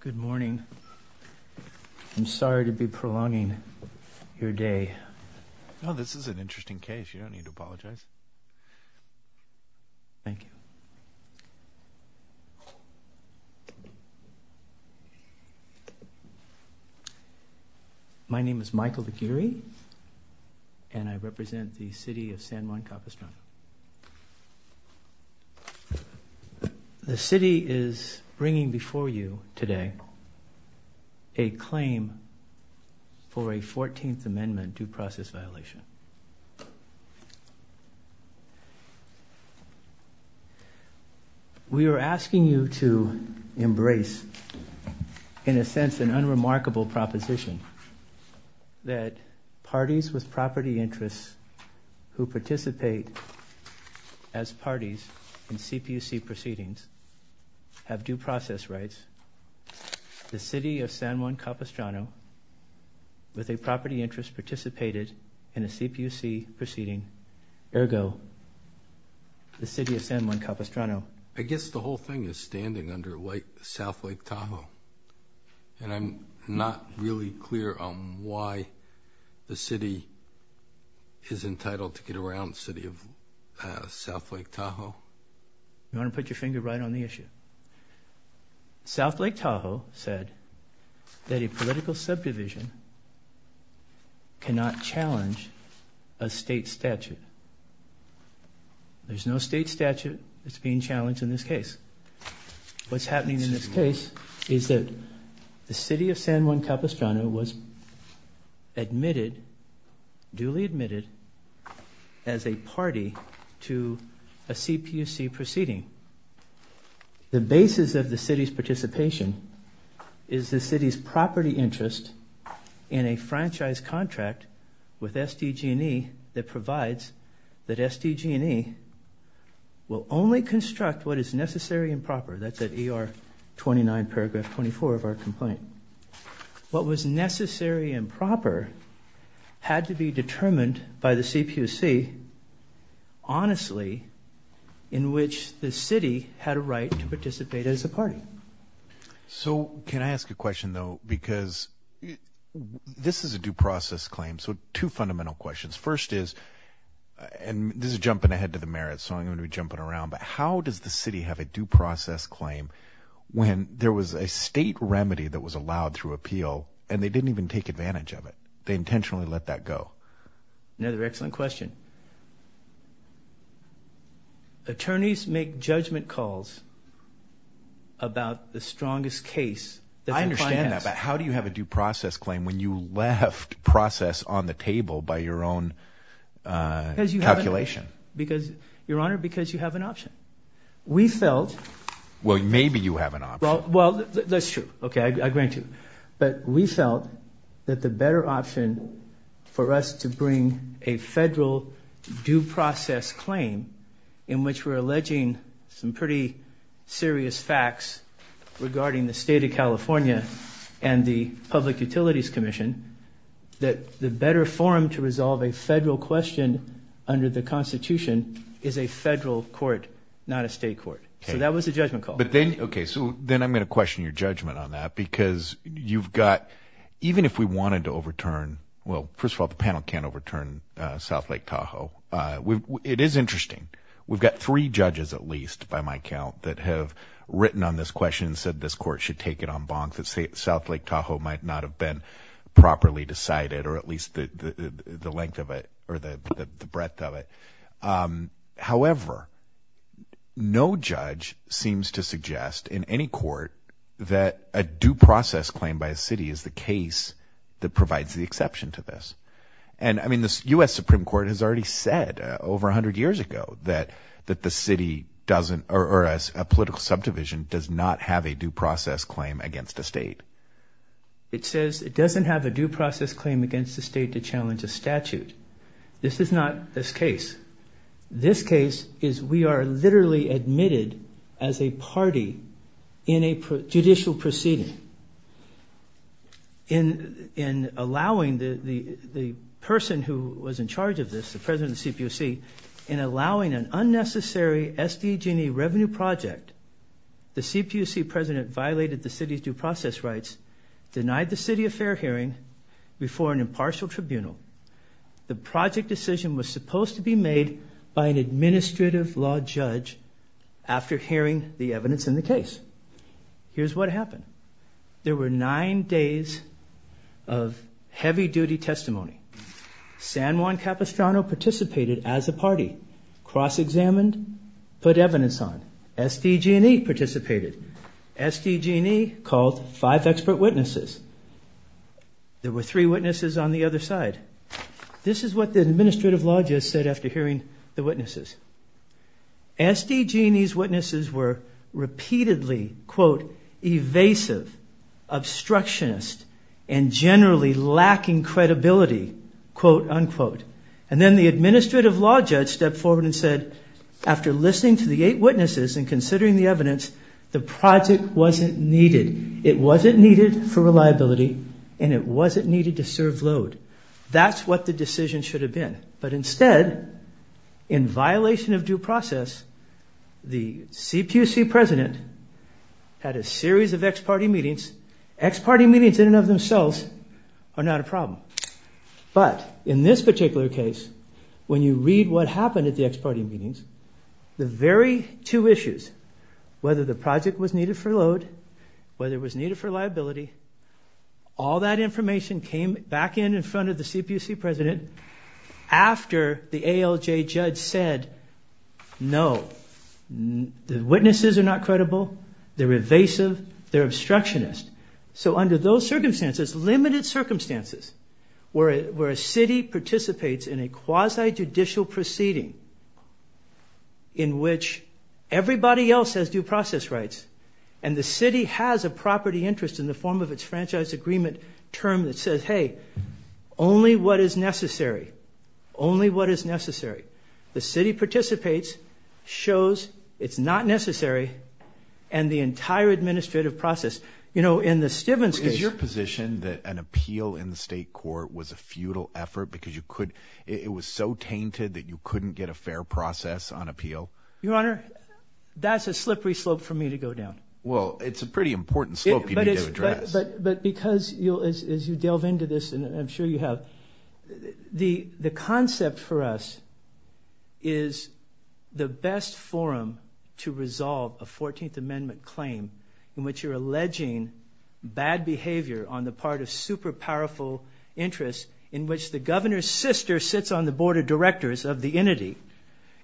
Good morning. I'm sorry to be prolonging your day. No, this is an interesting case. You don't need to apologize. Thank you. My name is Michael Laguirre, and I represent the City of San Juan Capistrano. The City is bringing before you today a claim for a 14th Amendment due process violation. We are asking you to embrace, in a sense, an unremarkable proposition, that parties with property interests who participate as parties in CPUC proceedings have due process rights. The City of San Juan Capistrano, with a property interest, participated in a CPUC proceeding. Ergo, the City of San Juan Capistrano. I guess the whole thing is standing under South Lake Tahoe, and I'm not really clear on why the City is entitled to get around the City of South Lake Tahoe. You want to put your finger right on the issue. South Lake Tahoe said that a political subdivision cannot challenge a state statute. There's no state statute that's being challenged in this case. What's happening in this case is that the City of San Juan Capistrano was admitted, duly admitted, as a party to a CPUC proceeding. The basis of the City's participation is the City's property interest in a franchise contract with SDG&E that provides that SDG&E will only construct what is necessary and proper. That's at ER 29, paragraph 24 of our complaint. What was necessary and proper had to be determined by the CPUC honestly, in which the City had a right to participate as a party. So can I ask a question, though? Because this is a due process claim, so two fundamental questions. First is, and this is jumping ahead to the merits, so I'm going to be jumping around, but how does the city have a due process claim when there was a state remedy that was allowed through appeal and they didn't even take advantage of it? They intentionally let that go. Another excellent question. Attorneys make judgment calls about the strongest case that the client has. I understand that, but how do you have a due process claim when you left process on the table by your own calculation? Because, Your Honor, because you have an option. We felt... Well, maybe you have an option. Well, that's true. Okay, I agree with you. But we felt that the better option for us to bring a federal due process claim in which we're alleging some pretty serious facts regarding the State of California and the Public Utilities Commission, that the better forum to resolve a federal question under the Constitution is a federal court, not a state court. So that was a judgment call. Okay, so then I'm going to question your judgment on that because you've got... Even if we wanted to overturn... Well, first of all, the panel can't overturn South Lake Tahoe. It is interesting. We've got three judges, at least, by my count, that have written on this question and said this court should take it en banc, that South Lake Tahoe might not have been properly decided or at least the length of it or the breadth of it. However, no judge seems to suggest in any court that a due process claim by a city is the case that provides the exception to this. And, I mean, the U.S. Supreme Court has already said over 100 years ago that the city doesn't or a political subdivision does not have a due process claim against a state. It says it doesn't have a due process claim against the state to challenge a statute. This is not this case. This case is we are literally admitted as a party in a judicial proceeding. In allowing the person who was in charge of this, the president of the CPUC, in allowing an unnecessary SDG&E revenue project, the CPUC president violated the city's due process rights, denied the city a fair hearing before an impartial tribunal. The project decision was supposed to be made by an administrative law judge after hearing the evidence in the case. Here's what happened. There were nine days of heavy-duty testimony. San Juan Capistrano participated as a party, cross-examined, put evidence on. SDG&E participated. SDG&E called five expert witnesses. There were three witnesses on the other side. This is what the administrative law judge said after hearing the witnesses. SDG&E's witnesses were repeatedly, quote, evasive, obstructionist, and generally lacking credibility, quote, unquote. And then the administrative law judge stepped forward and said, after listening to the eight witnesses and considering the evidence, the project wasn't needed. It wasn't needed for reliability, and it wasn't needed to serve load. That's what the decision should have been. But instead, in violation of due process, the CPUC president had a series of ex-party meetings. Ex-party meetings in and of themselves are not a problem. But in this particular case, when you read what happened at the ex-party meetings, the very two issues, whether the project was needed for load, whether it was needed for liability, all that information came back in in front of the CPUC president after the ALJ judge said, no, the witnesses are not credible, they're evasive, they're obstructionist. So under those circumstances, limited circumstances, where a city participates in a quasi-judicial proceeding in which everybody else has due process rights, and the city has a property interest in the form of its franchise agreement term that says, hey, only what is necessary, only what is necessary. The city participates, shows it's not necessary, and the entire administrative process. You know, in the Stevens case – Is your position that an appeal in the state court was a futile effort because it was so tainted that you couldn't get a fair process on appeal? Your Honor, that's a slippery slope for me to go down. Well, it's a pretty important slope you need to address. But because, as you delve into this, and I'm sure you have, the concept for us is the best forum to resolve a 14th Amendment claim in which you're alleging bad behavior on the part of super powerful interests in which the governor's sister sits on the board of directors of the entity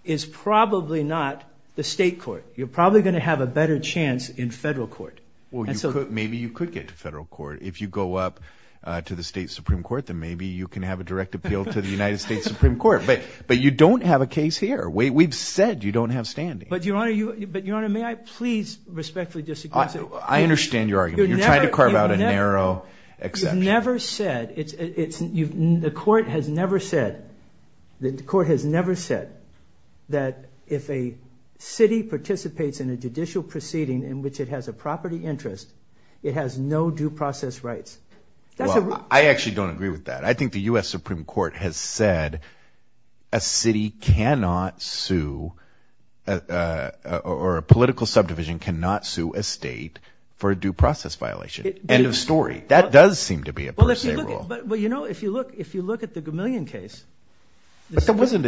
is probably not the state court. You're probably going to have a better chance in federal court. Well, maybe you could get to federal court. If you go up to the state supreme court, then maybe you can have a direct appeal to the United States Supreme Court. But you don't have a case here. We've said you don't have standing. But, Your Honor, may I please respectfully disagree? I understand your argument. You're trying to carve out a narrow exception. The court has never said that if a city participates in a judicial proceeding in which it has a property interest, it has no due process rights. I actually don't agree with that. I think the U.S. Supreme Court has said a city cannot sue or a political subdivision cannot sue a state for a due process violation. End of story. That does seem to be a per se rule. Well, you know, if you look at the Gamillion case. That wasn't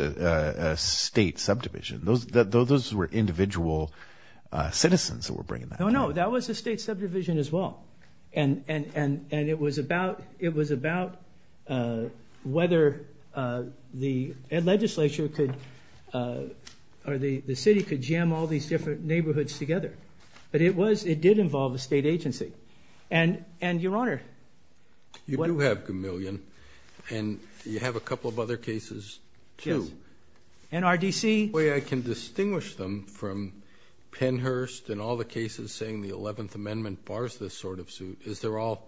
a state subdivision. Those were individual citizens who were bringing that up. No, no, that was a state subdivision as well. And it was about whether the legislature could or the city could jam all these different neighborhoods together. But it did involve a state agency. And, Your Honor. You do have Gamillion. And you have a couple of other cases too. Yes. NRDC. The way I can distinguish them from Pennhurst and all the cases saying the 11th Amendment bars this sort of suit is they're all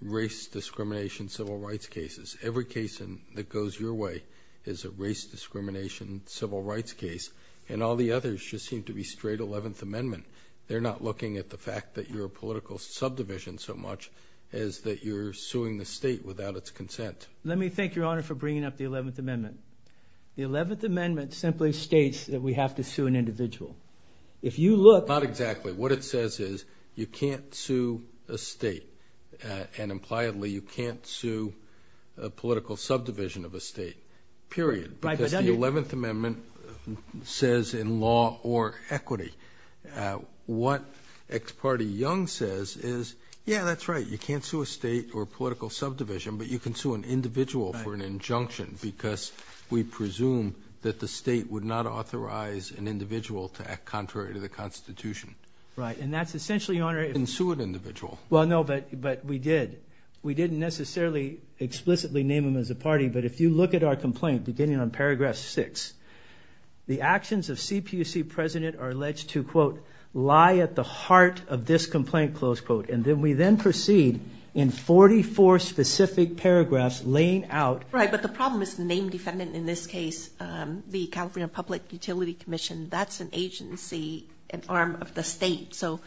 race discrimination civil rights cases. Every case that goes your way is a race discrimination civil rights case. And all the others just seem to be straight 11th Amendment. They're not looking at the fact that you're a political subdivision so much as that you're suing the state without its consent. Let me thank Your Honor for bringing up the 11th Amendment. The 11th Amendment simply states that we have to sue an individual. If you look. Not exactly. What it says is you can't sue a state. And, impliedly, you can't sue a political subdivision of a state. Period. Because the 11th Amendment says in law or equity. What Ex parte Young says is, yeah, that's right. You can't sue a state or a political subdivision, but you can sue an individual for an injunction because we presume that the state would not authorize an individual to act contrary to the Constitution. Right. And that's essentially, Your Honor. You can't sue an individual. Well, no, but we did. We didn't necessarily explicitly name them as a party, but if you look at our complaint, beginning on paragraph 6, the actions of CPUC President are alleged to, quote, lie at the heart of this complaint, close quote. And then we then proceed in 44 specific paragraphs laying out. Right. But the problem is the name defendant in this case, the California Public Utility Commission. That's an agency, an arm of the state. So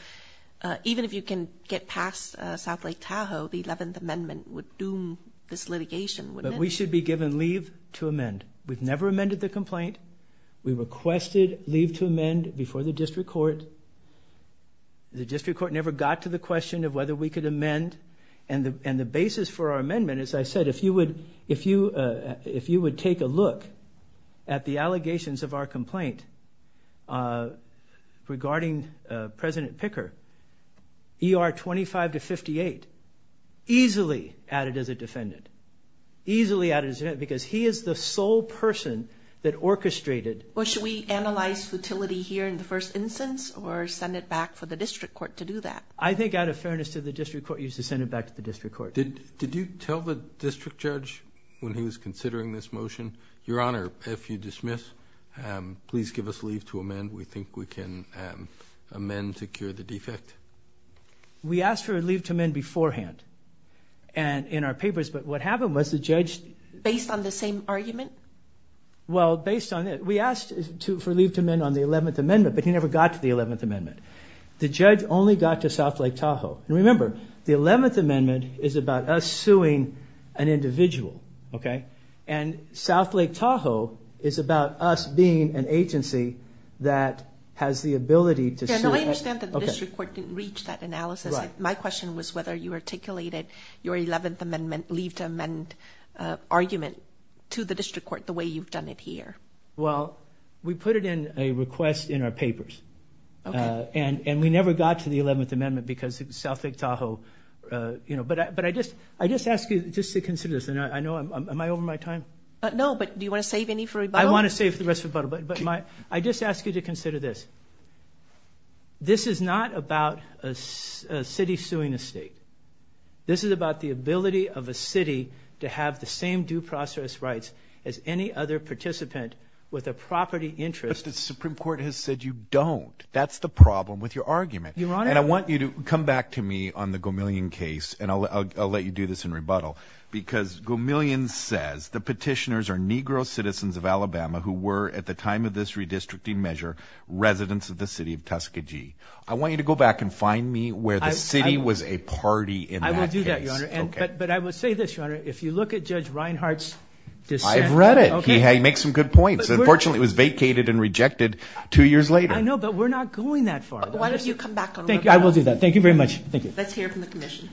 even if you can get past South Lake Tahoe, the 11th Amendment would doom this litigation, wouldn't it? But we should be given leave to amend. We've never amended the complaint. We requested leave to amend before the district court. The district court never got to the question of whether we could amend. And the basis for our amendment, as I said, if you would take a look at the allegations of our complaint regarding President Picker, ER 25 to 58, easily added as a defendant. Easily added as a defendant because he is the sole person that orchestrated. Well, should we analyze futility here in the first instance or send it back for the district court to do that? I think out of fairness to the district court, you should send it back to the district court. Did you tell the district judge when he was considering this motion, Your Honor, if you dismiss, please give us leave to amend. We think we can amend to cure the defect. We asked for leave to amend beforehand in our papers, but what happened was the judge. Based on the same argument? Well, based on it, we asked for leave to amend on the 11th Amendment, but he never got to the 11th Amendment. The judge only got to South Lake Tahoe. Remember, the 11th Amendment is about us suing an individual, and South Lake Tahoe is about us being an agency that has the ability to sue. I understand that the district court didn't reach that analysis. My question was whether you articulated your 11th Amendment leave to amend argument to the district court the way you've done it here. Well, we put it in a request in our papers. And we never got to the 11th Amendment because of South Lake Tahoe. But I just ask you just to consider this. Am I over my time? No, but do you want to save any for rebuttal? I want to save the rest for rebuttal, but I just ask you to consider this. This is not about a city suing a state. This is about the ability of a city to have the same due process rights as any other participant with a property interest. The Supreme Court has said you don't. That's the problem with your argument. And I want you to come back to me on the Gomillion case, and I'll let you do this in rebuttal. Because Gomillion says the petitioners are Negro citizens of Alabama who were, at the time of this redistricting measure, residents of the city of Tuskegee. I want you to go back and find me where the city was a party in that case. I will do that, Your Honor. But I will say this, Your Honor. If you look at Judge Reinhart's dissent. I've read it. He makes some good points. Unfortunately, it was vacated and rejected two years later. I know, but we're not going that far. Why don't you come back on rebuttal? I will do that. Thank you very much. Thank you. Let's hear from the commission.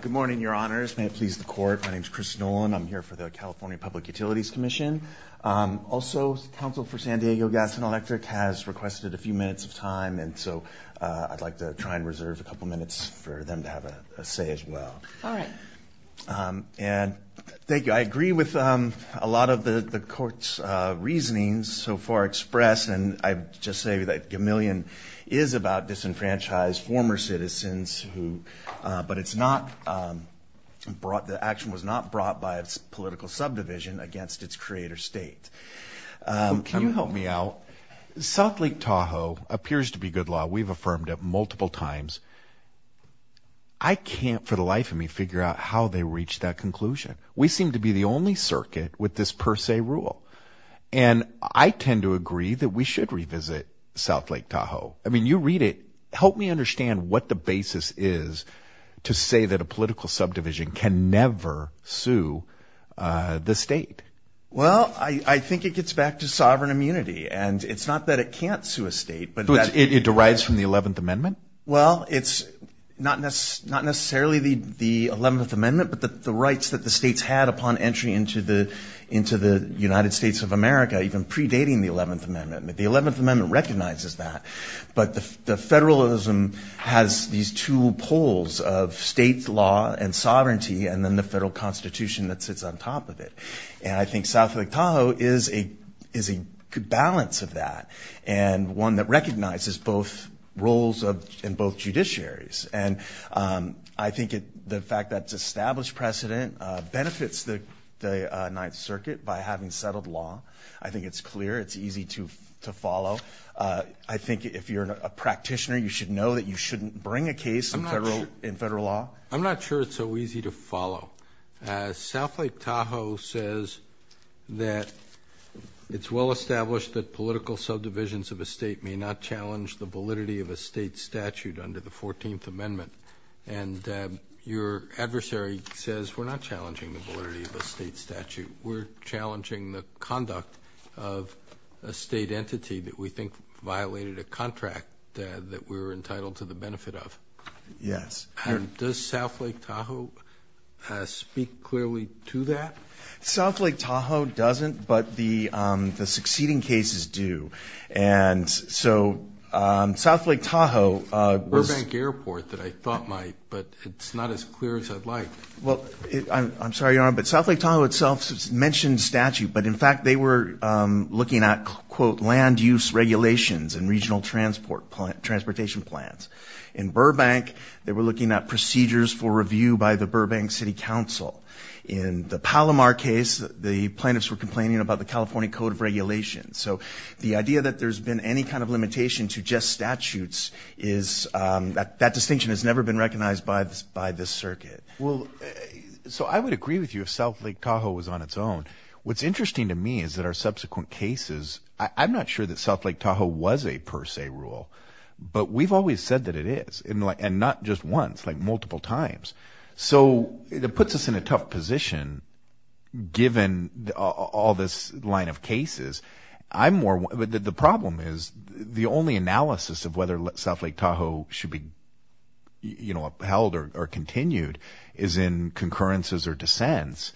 Good morning, Your Honors. May it please the Court. My name is Chris Nolan. I'm here for the California Public Utilities Commission. Also, the Council for San Diego Gas and Electric has requested a few minutes of time, and so I'd like to try and reserve a couple minutes for them to have a say as well. All right. And thank you. I agree with a lot of the Court's reasoning so far expressed, and I just say that Gamillion is about disenfranchised former citizens, but the action was not brought by its political subdivision against its creator state. Can you help me out? South Lake Tahoe appears to be good law. We've affirmed it multiple times. I can't for the life of me figure out how they reached that conclusion. We seem to be the only circuit with this per se rule, and I tend to agree that we should revisit South Lake Tahoe. I mean, you read it. Help me understand what the basis is to say that a political subdivision can never sue the state. Well, I think it gets back to sovereign immunity, and it's not that it can't sue a state. It derives from the 11th Amendment? Well, it's not necessarily the 11th Amendment, but the rights that the states had upon entry into the United States of America, even predating the 11th Amendment. The 11th Amendment recognizes that, but the federalism has these two poles of state law and sovereignty and then the federal constitution that sits on top of it. And I think South Lake Tahoe is a good balance of that and one that recognizes both roles in both judiciaries. And I think the fact that it's established precedent benefits the Ninth Circuit by having settled law. I think it's clear. It's easy to follow. I think if you're a practitioner, you should know that you shouldn't bring a case in federal law. I'm not sure it's so easy to follow. South Lake Tahoe says that it's well established that political subdivisions of a state may not challenge the validity of a state statute under the 14th Amendment. And your adversary says we're not challenging the validity of a state statute. We're challenging the conduct of a state entity that we think violated a contract that we're entitled to the benefit of. Yes. And does South Lake Tahoe speak clearly to that? South Lake Tahoe doesn't, but the succeeding cases do. And so South Lake Tahoe was – Burbank Airport that I thought might, but it's not as clear as I'd like. Well, I'm sorry, Your Honor, but South Lake Tahoe itself mentions statute, but in fact they were looking at, quote, land use regulations and regional transportation plans. In Burbank, they were looking at procedures for review by the Burbank City Council. In the Palomar case, the plaintiffs were complaining about the California Code of Regulations. So the idea that there's been any kind of limitation to just statutes is – that distinction has never been recognized by this circuit. Well, so I would agree with you if South Lake Tahoe was on its own. What's interesting to me is that our subsequent cases – I'm not sure that South Lake Tahoe was a per se rule, but we've always said that it is, and not just once, like multiple times. So it puts us in a tough position given all this line of cases. I'm more – the problem is the only analysis of whether South Lake Tahoe should be held or continued is in concurrences or dissents.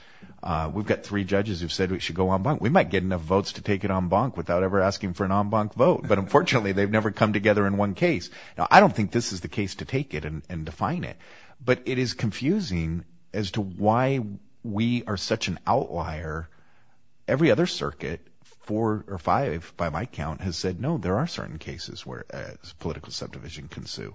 We've got three judges who've said it should go en banc. We might get enough votes to take it en banc without ever asking for an en banc vote, but unfortunately they've never come together in one case. Now, I don't think this is the case to take it and define it, but it is confusing as to why we are such an outlier. Every other circuit, four or five by my count, has said, no, there are certain cases where political subdivision can sue.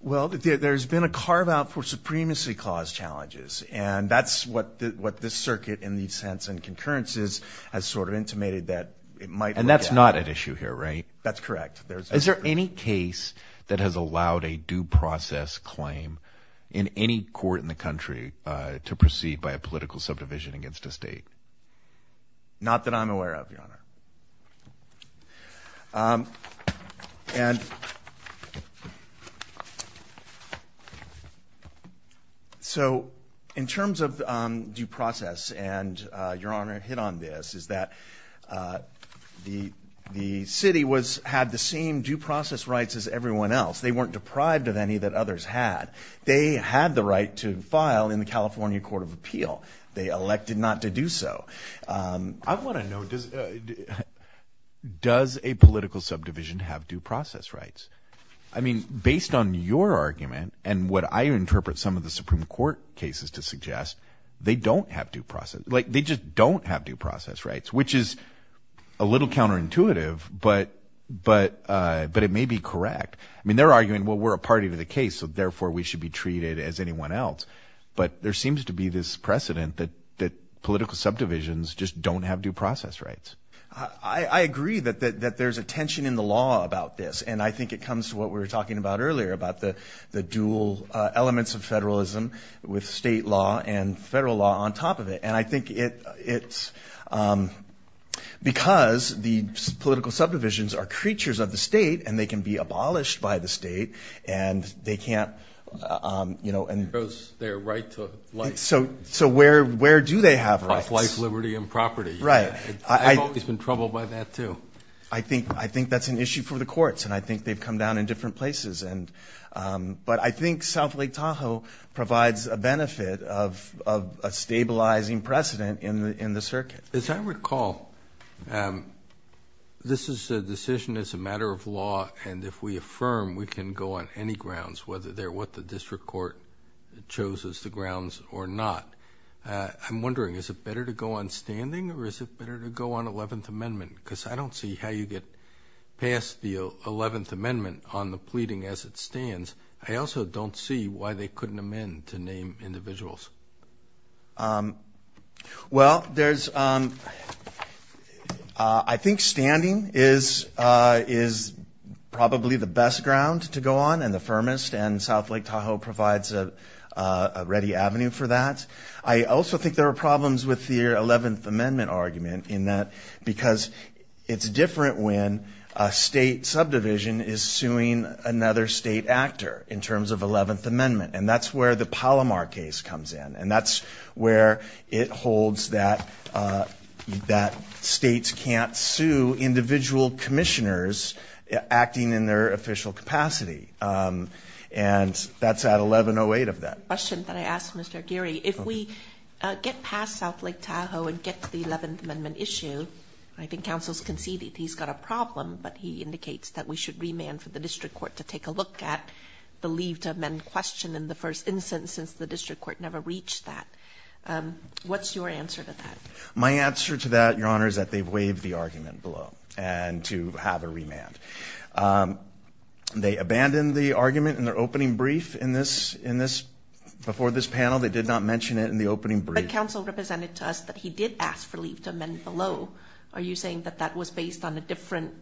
Well, there's been a carve-out for supremacy clause challenges, and that's what this circuit in the sense in concurrences has sort of intimated that it might work out. It's not at issue here, right? That's correct. Is there any case that has allowed a due process claim in any court in the country to proceed by a political subdivision against a state? And so in terms of due process, and Your Honor hit on this, is that the city had the same due process rights as everyone else. They weren't deprived of any that others had. They had the right to file in the California Court of Appeal. They elected not to do so. I want to know, does a political subdivision have due process rights? I mean, based on your argument and what I interpret some of the Supreme Court cases to suggest, they don't have due process, like they just don't have due process rights, which is a little counterintuitive, but it may be correct. I mean, they're arguing, well, we're a party to the case, so therefore we should be treated as anyone else. But there seems to be this precedent that political subdivisions just don't have due process rights. I agree that there's a tension in the law about this, and I think it comes to what we were talking about earlier, about the dual elements of federalism with state law and federal law on top of it. And I think it's because the political subdivisions are creatures of the state and they can be abolished by the state, and they can't, you know. It goes their right to life. So where do they have rights? Of life, liberty, and property. Right. I've always been troubled by that, too. I think that's an issue for the courts, and I think they've come down in different places. But I think South Lake Tahoe provides a benefit of a stabilizing precedent in the circuit. As I recall, this is a decision that's a matter of law, and if we affirm we can go on any grounds, whether they're what the district court chose as the grounds or not. I'm wondering, is it better to go on standing or is it better to go on 11th Amendment? Because I don't see how you get past the 11th Amendment on the pleading as it stands. I also don't see why they couldn't amend to name individuals. Well, I think standing is probably the best ground to go on and the firmest, and South Lake Tahoe provides a ready avenue for that. I also think there are problems with the 11th Amendment argument in that because it's different when a state subdivision is suing another state actor in terms of 11th Amendment, and that's where the Palomar case comes in, and that's where it holds that states can't sue individual commissioners acting in their official capacity, and that's at 1108 of that. A question that I asked Mr. Aguirre. If we get past South Lake Tahoe and get to the 11th Amendment issue, I think counsel's conceded he's got a problem, but he indicates that we should remand for the district court to take a look at the leave to amend question in the first instance since the district court never reached that. What's your answer to that? My answer to that, Your Honor, is that they've waived the argument below and to have a remand. They abandoned the argument in their opening brief before this panel. They did not mention it in the opening brief. But counsel represented to us that he did ask for leave to amend below. Are you saying that that was based on a different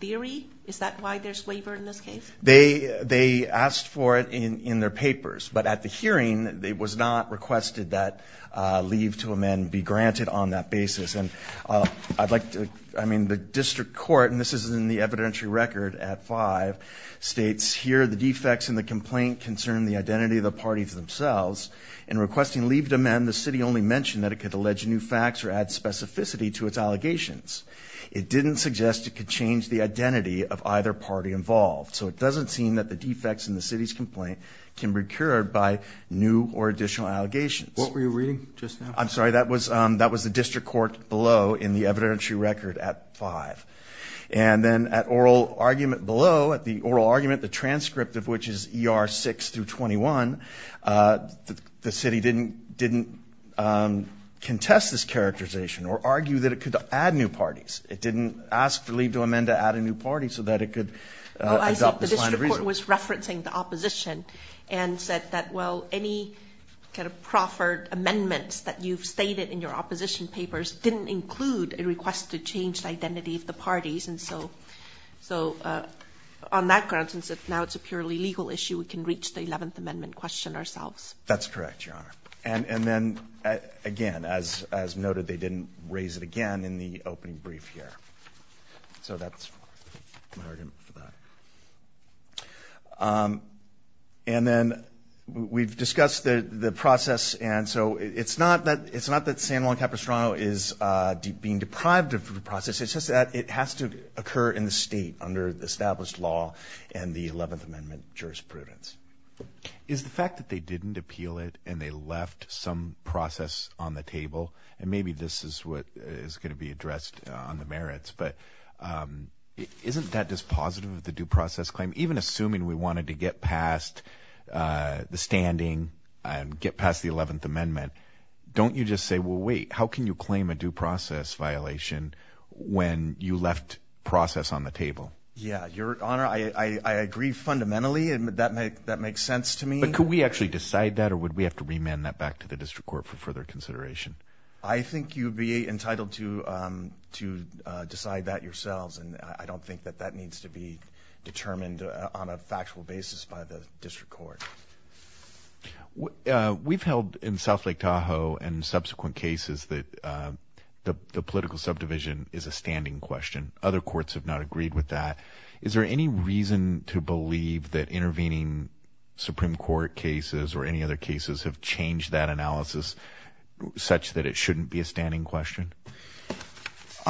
theory? Is that why there's waiver in this case? They asked for it in their papers, but at the hearing, it was not requested that leave to amend be granted on that basis. And I'd like to, I mean, the district court, and this is in the evidentiary record at five, states here the defects in the complaint concern the identity of the parties themselves. In requesting leave to amend, the city only mentioned that it could allege new facts or add specificity to its allegations. It didn't suggest it could change the identity of either party involved. So it doesn't seem that the defects in the city's complaint can be cured by new or additional allegations. What were you reading just now? I'm sorry, that was the district court below in the evidentiary record at five. And then at oral argument below, at the oral argument, the transcript of which is ER 6 through 21, the city didn't contest this characterization or argue that it could add new parties. It didn't ask to leave to amend to add a new party so that it could adopt this line of reasoning. Well, I think the district court was referencing the opposition and said that, well, any kind of proffered amendments that you've stated in your opposition papers didn't include a request to change the identity of the parties. And so on that grounds, since now it's a purely legal issue, we can reach the 11th Amendment question ourselves. That's correct, Your Honor. And then, again, as noted, they didn't raise it again in the opening brief here. So that's my argument for that. And then we've discussed the process. And so it's not that San Juan Capistrano is being deprived of the process. It's just that it has to occur in the state under established law and the 11th Amendment jurisprudence. Is the fact that they didn't appeal it and they left some process on the table, and maybe this is what is going to be addressed on the merits, but isn't that dispositive of the due process claim? Even assuming we wanted to get past the standing and get past the 11th Amendment, don't you just say, well, wait, how can you claim a due process violation when you left process on the table? Yeah, Your Honor, I agree fundamentally, and that makes sense to me. But could we actually decide that, or would we have to remand that back to the district court for further consideration? I think you'd be entitled to decide that yourselves, and I don't think that that needs to be determined on a factual basis by the district court. We've held in South Lake Tahoe and subsequent cases that the political subdivision is a standing question. Other courts have not agreed with that. Is there any reason to believe that intervening Supreme Court cases or any other cases have changed that analysis such that it shouldn't be a standing question?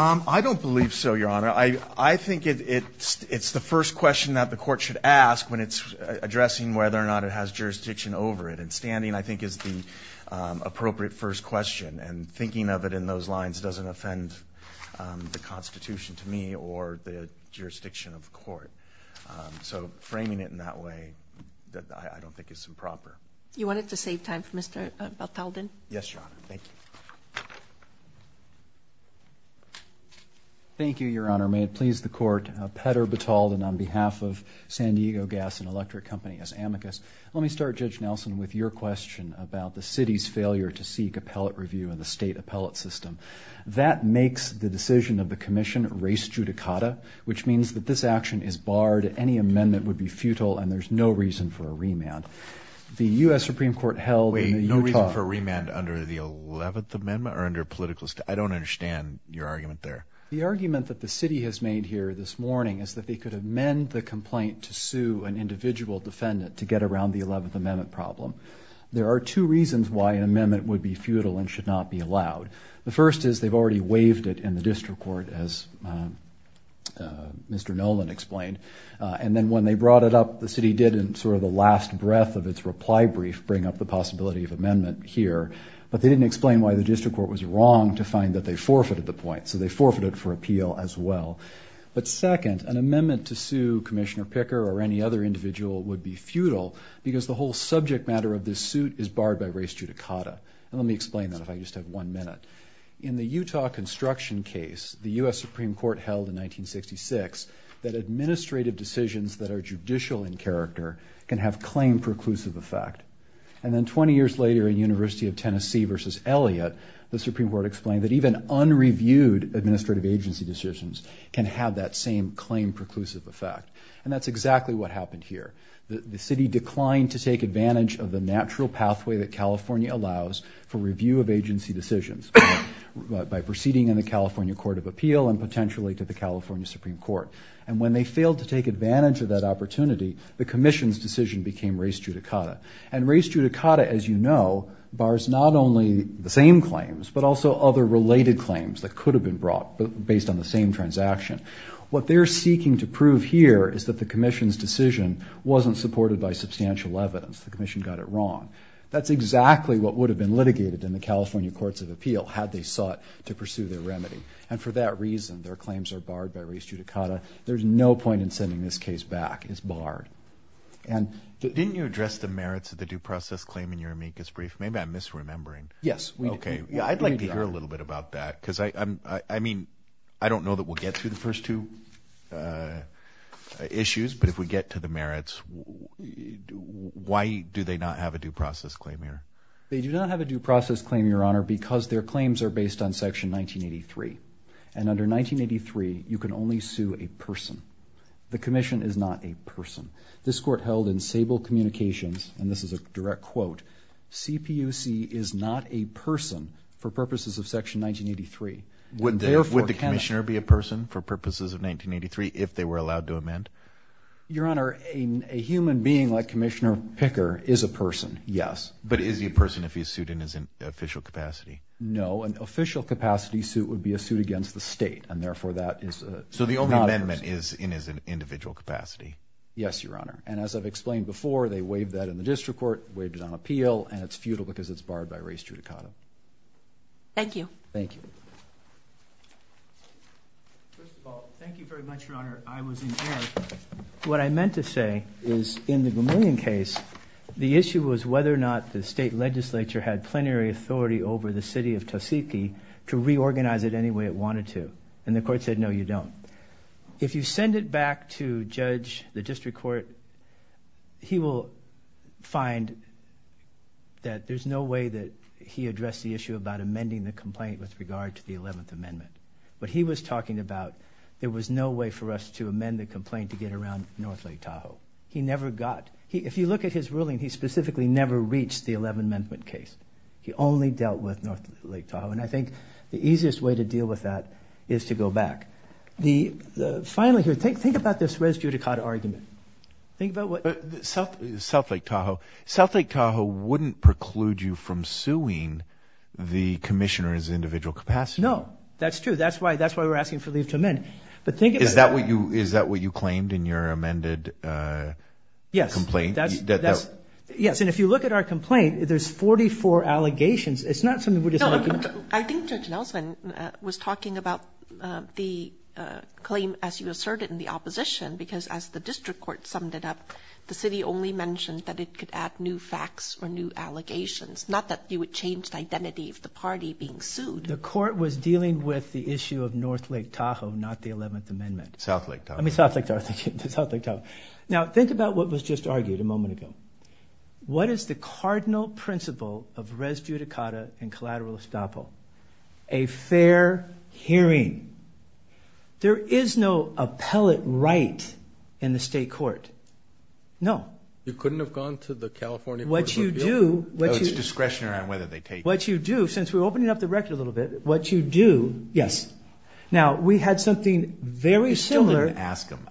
I don't believe so, Your Honor. I think it's the first question that the court should ask when it's addressing whether or not it has jurisdiction over it. And standing, I think, is the appropriate first question, and thinking of it in those lines doesn't offend the Constitution to me or the jurisdiction of the court. So framing it in that way, I don't think it's improper. You want it to save time for Mr. Baltaldin? Yes, Your Honor. Thank you. Thank you, Your Honor. May it please the court, Petter Bataldin on behalf of San Diego Gas and Electric Company as amicus. Let me start, Judge Nelson, with your question about the city's failure to seek appellate review in the state appellate system. That makes the decision of the commission res judicata, which means that this action is barred, any amendment would be futile, and there's no reason for a remand. The U.S. Supreme Court held in Utah. I don't understand your argument there. The argument that the city has made here this morning is that they could amend the complaint to sue an individual defendant to get around the Eleventh Amendment problem. There are two reasons why an amendment would be futile and should not be allowed. The first is they've already waived it in the district court, as Mr. Nolan explained, and then when they brought it up, the city did in sort of the last breath of its reply brief, bring up the possibility of amendment here, but they didn't explain why the district court was wrong to find that they forfeited the point, so they forfeited for appeal as well. But second, an amendment to sue Commissioner Picker or any other individual would be futile because the whole subject matter of this suit is barred by res judicata. And let me explain that if I just have one minute. In the Utah construction case, the U.S. Supreme Court held in 1966 that administrative decisions that are judicial in character can have claim-preclusive effect. And then 20 years later in University of Tennessee v. Elliott, the Supreme Court explained that even unreviewed administrative agency decisions can have that same claim-preclusive effect. And that's exactly what happened here. The city declined to take advantage of the natural pathway that California allows for review of agency decisions by proceeding in the California Court of Appeal and potentially to the California Supreme Court. And when they failed to take advantage of that opportunity, the commission's decision became res judicata. And res judicata, as you know, bars not only the same claims but also other related claims that could have been brought based on the same transaction. What they're seeking to prove here is that the commission's decision wasn't supported by substantial evidence. The commission got it wrong. That's exactly what would have been litigated in the California Courts of Appeal had they sought to pursue their remedy. And for that reason, their claims are barred by res judicata. There's no point in sending this case back. It's barred. Didn't you address the merits of the due process claim in your amicus brief? Maybe I'm misremembering. Yes. Okay. I'd like to hear a little bit about that because I don't know that we'll get to the first two issues, but if we get to the merits, why do they not have a due process claim here? They do not have a due process claim, Your Honor, because their claims are based on Section 1983. And under 1983, you can only sue a person. The commission is not a person. This court held in Sable Communications, and this is a direct quote, CPUC is not a person for purposes of Section 1983. Would the commissioner be a person for purposes of 1983 if they were allowed to amend? Your Honor, a human being like Commissioner Picker is a person, yes. But is he a person if he's sued in his official capacity? No. An official capacity suit would be a suit against the state, and therefore that is not a person. So the only amendment is in his individual capacity? Yes, Your Honor. And as I've explained before, they waived that in the district court, waived it on appeal, and it's futile because it's barred by race judicata. Thank you. Thank you. First of all, thank you very much, Your Honor. I was in error. What I meant to say is in the Vermillion case, the issue was whether or not the state legislature had plenary authority over the city of Tuskegee to reorganize it any way it wanted to. And the court said, no, you don't. If you send it back to judge, the district court, he will find that there's no way that he addressed the issue about amending the complaint with regard to the 11th Amendment. What he was talking about, there was no way for us to amend the complaint to get around North Lake Tahoe. He never got, if you look at his ruling, he specifically never reached the 11th Amendment case. He only dealt with North Lake Tahoe. And I think the easiest way to deal with that is to go back. Finally here, think about this race judicata argument. Think about what... South Lake Tahoe. South Lake Tahoe wouldn't preclude you from suing the commissioner in his individual capacity. No, that's true. That's why we're asking for leave to amend. But think about that. Is that what you claimed in your amended complaint? Yes. And if you look at our complaint, there's 44 allegations. It's not something we just... I think Judge Nelson was talking about the claim as you asserted in the opposition because as the district court summed it up, the city only mentioned that it could add new facts or new allegations, not that you would change the identity of the party being sued. The court was dealing with the issue of North Lake Tahoe, not the 11th Amendment. South Lake Tahoe. I mean, South Lake Tahoe. Now, think about what was just argued a moment ago. What is the cardinal principle of res judicata and collateral estoppel? A fair hearing. There is no appellate right in the state court. No. You couldn't have gone to the California Court of Appeal? What you do... No, it's discretion around whether they take... What you do, since we're opening up the record a little bit, what you do... Yes. Now, we had something very similar... You still didn't ask him.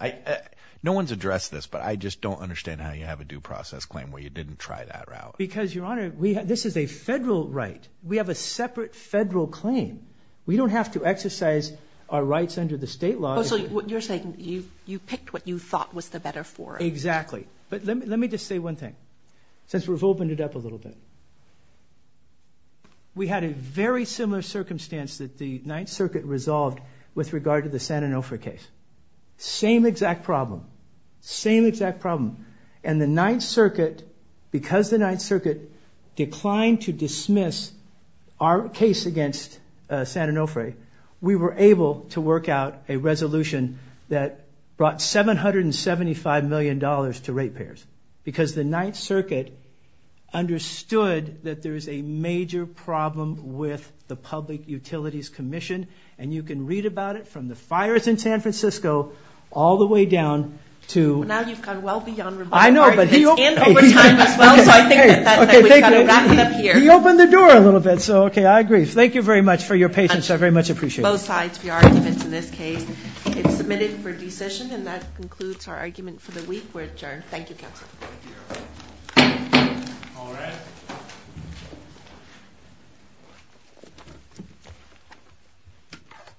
No one's addressed this, but I just don't understand how you have a due process claim where you didn't try that route. Because, Your Honor, this is a federal right. We have a separate federal claim. We don't have to exercise our rights under the state law. Oh, so you're saying you picked what you thought was the better forum. Exactly. But let me just say one thing, since we've opened it up a little bit. We had a very similar circumstance that the Ninth Circuit resolved with regard to the San Onofre case. Same exact problem. Same exact problem. And the Ninth Circuit, because the Ninth Circuit declined to dismiss our case against San Onofre, we were able to work out a resolution that brought $775 million to rate payers. Because the Ninth Circuit understood that there's a major problem with the Public Utilities Commission, and you can read about it from the fires in San Francisco all the way down to... Now you've gone well beyond rebuttal. I know, but... And over time as well, so I think that we've got to wrap it up here. You opened the door a little bit, so, okay, I agree. Thank you very much for your patience. I very much appreciate it. Both sides of the argument in this case. It's submitted for decision, and that concludes our argument for the week. We're adjourned. Thank you, counsel. Thank you. All rise.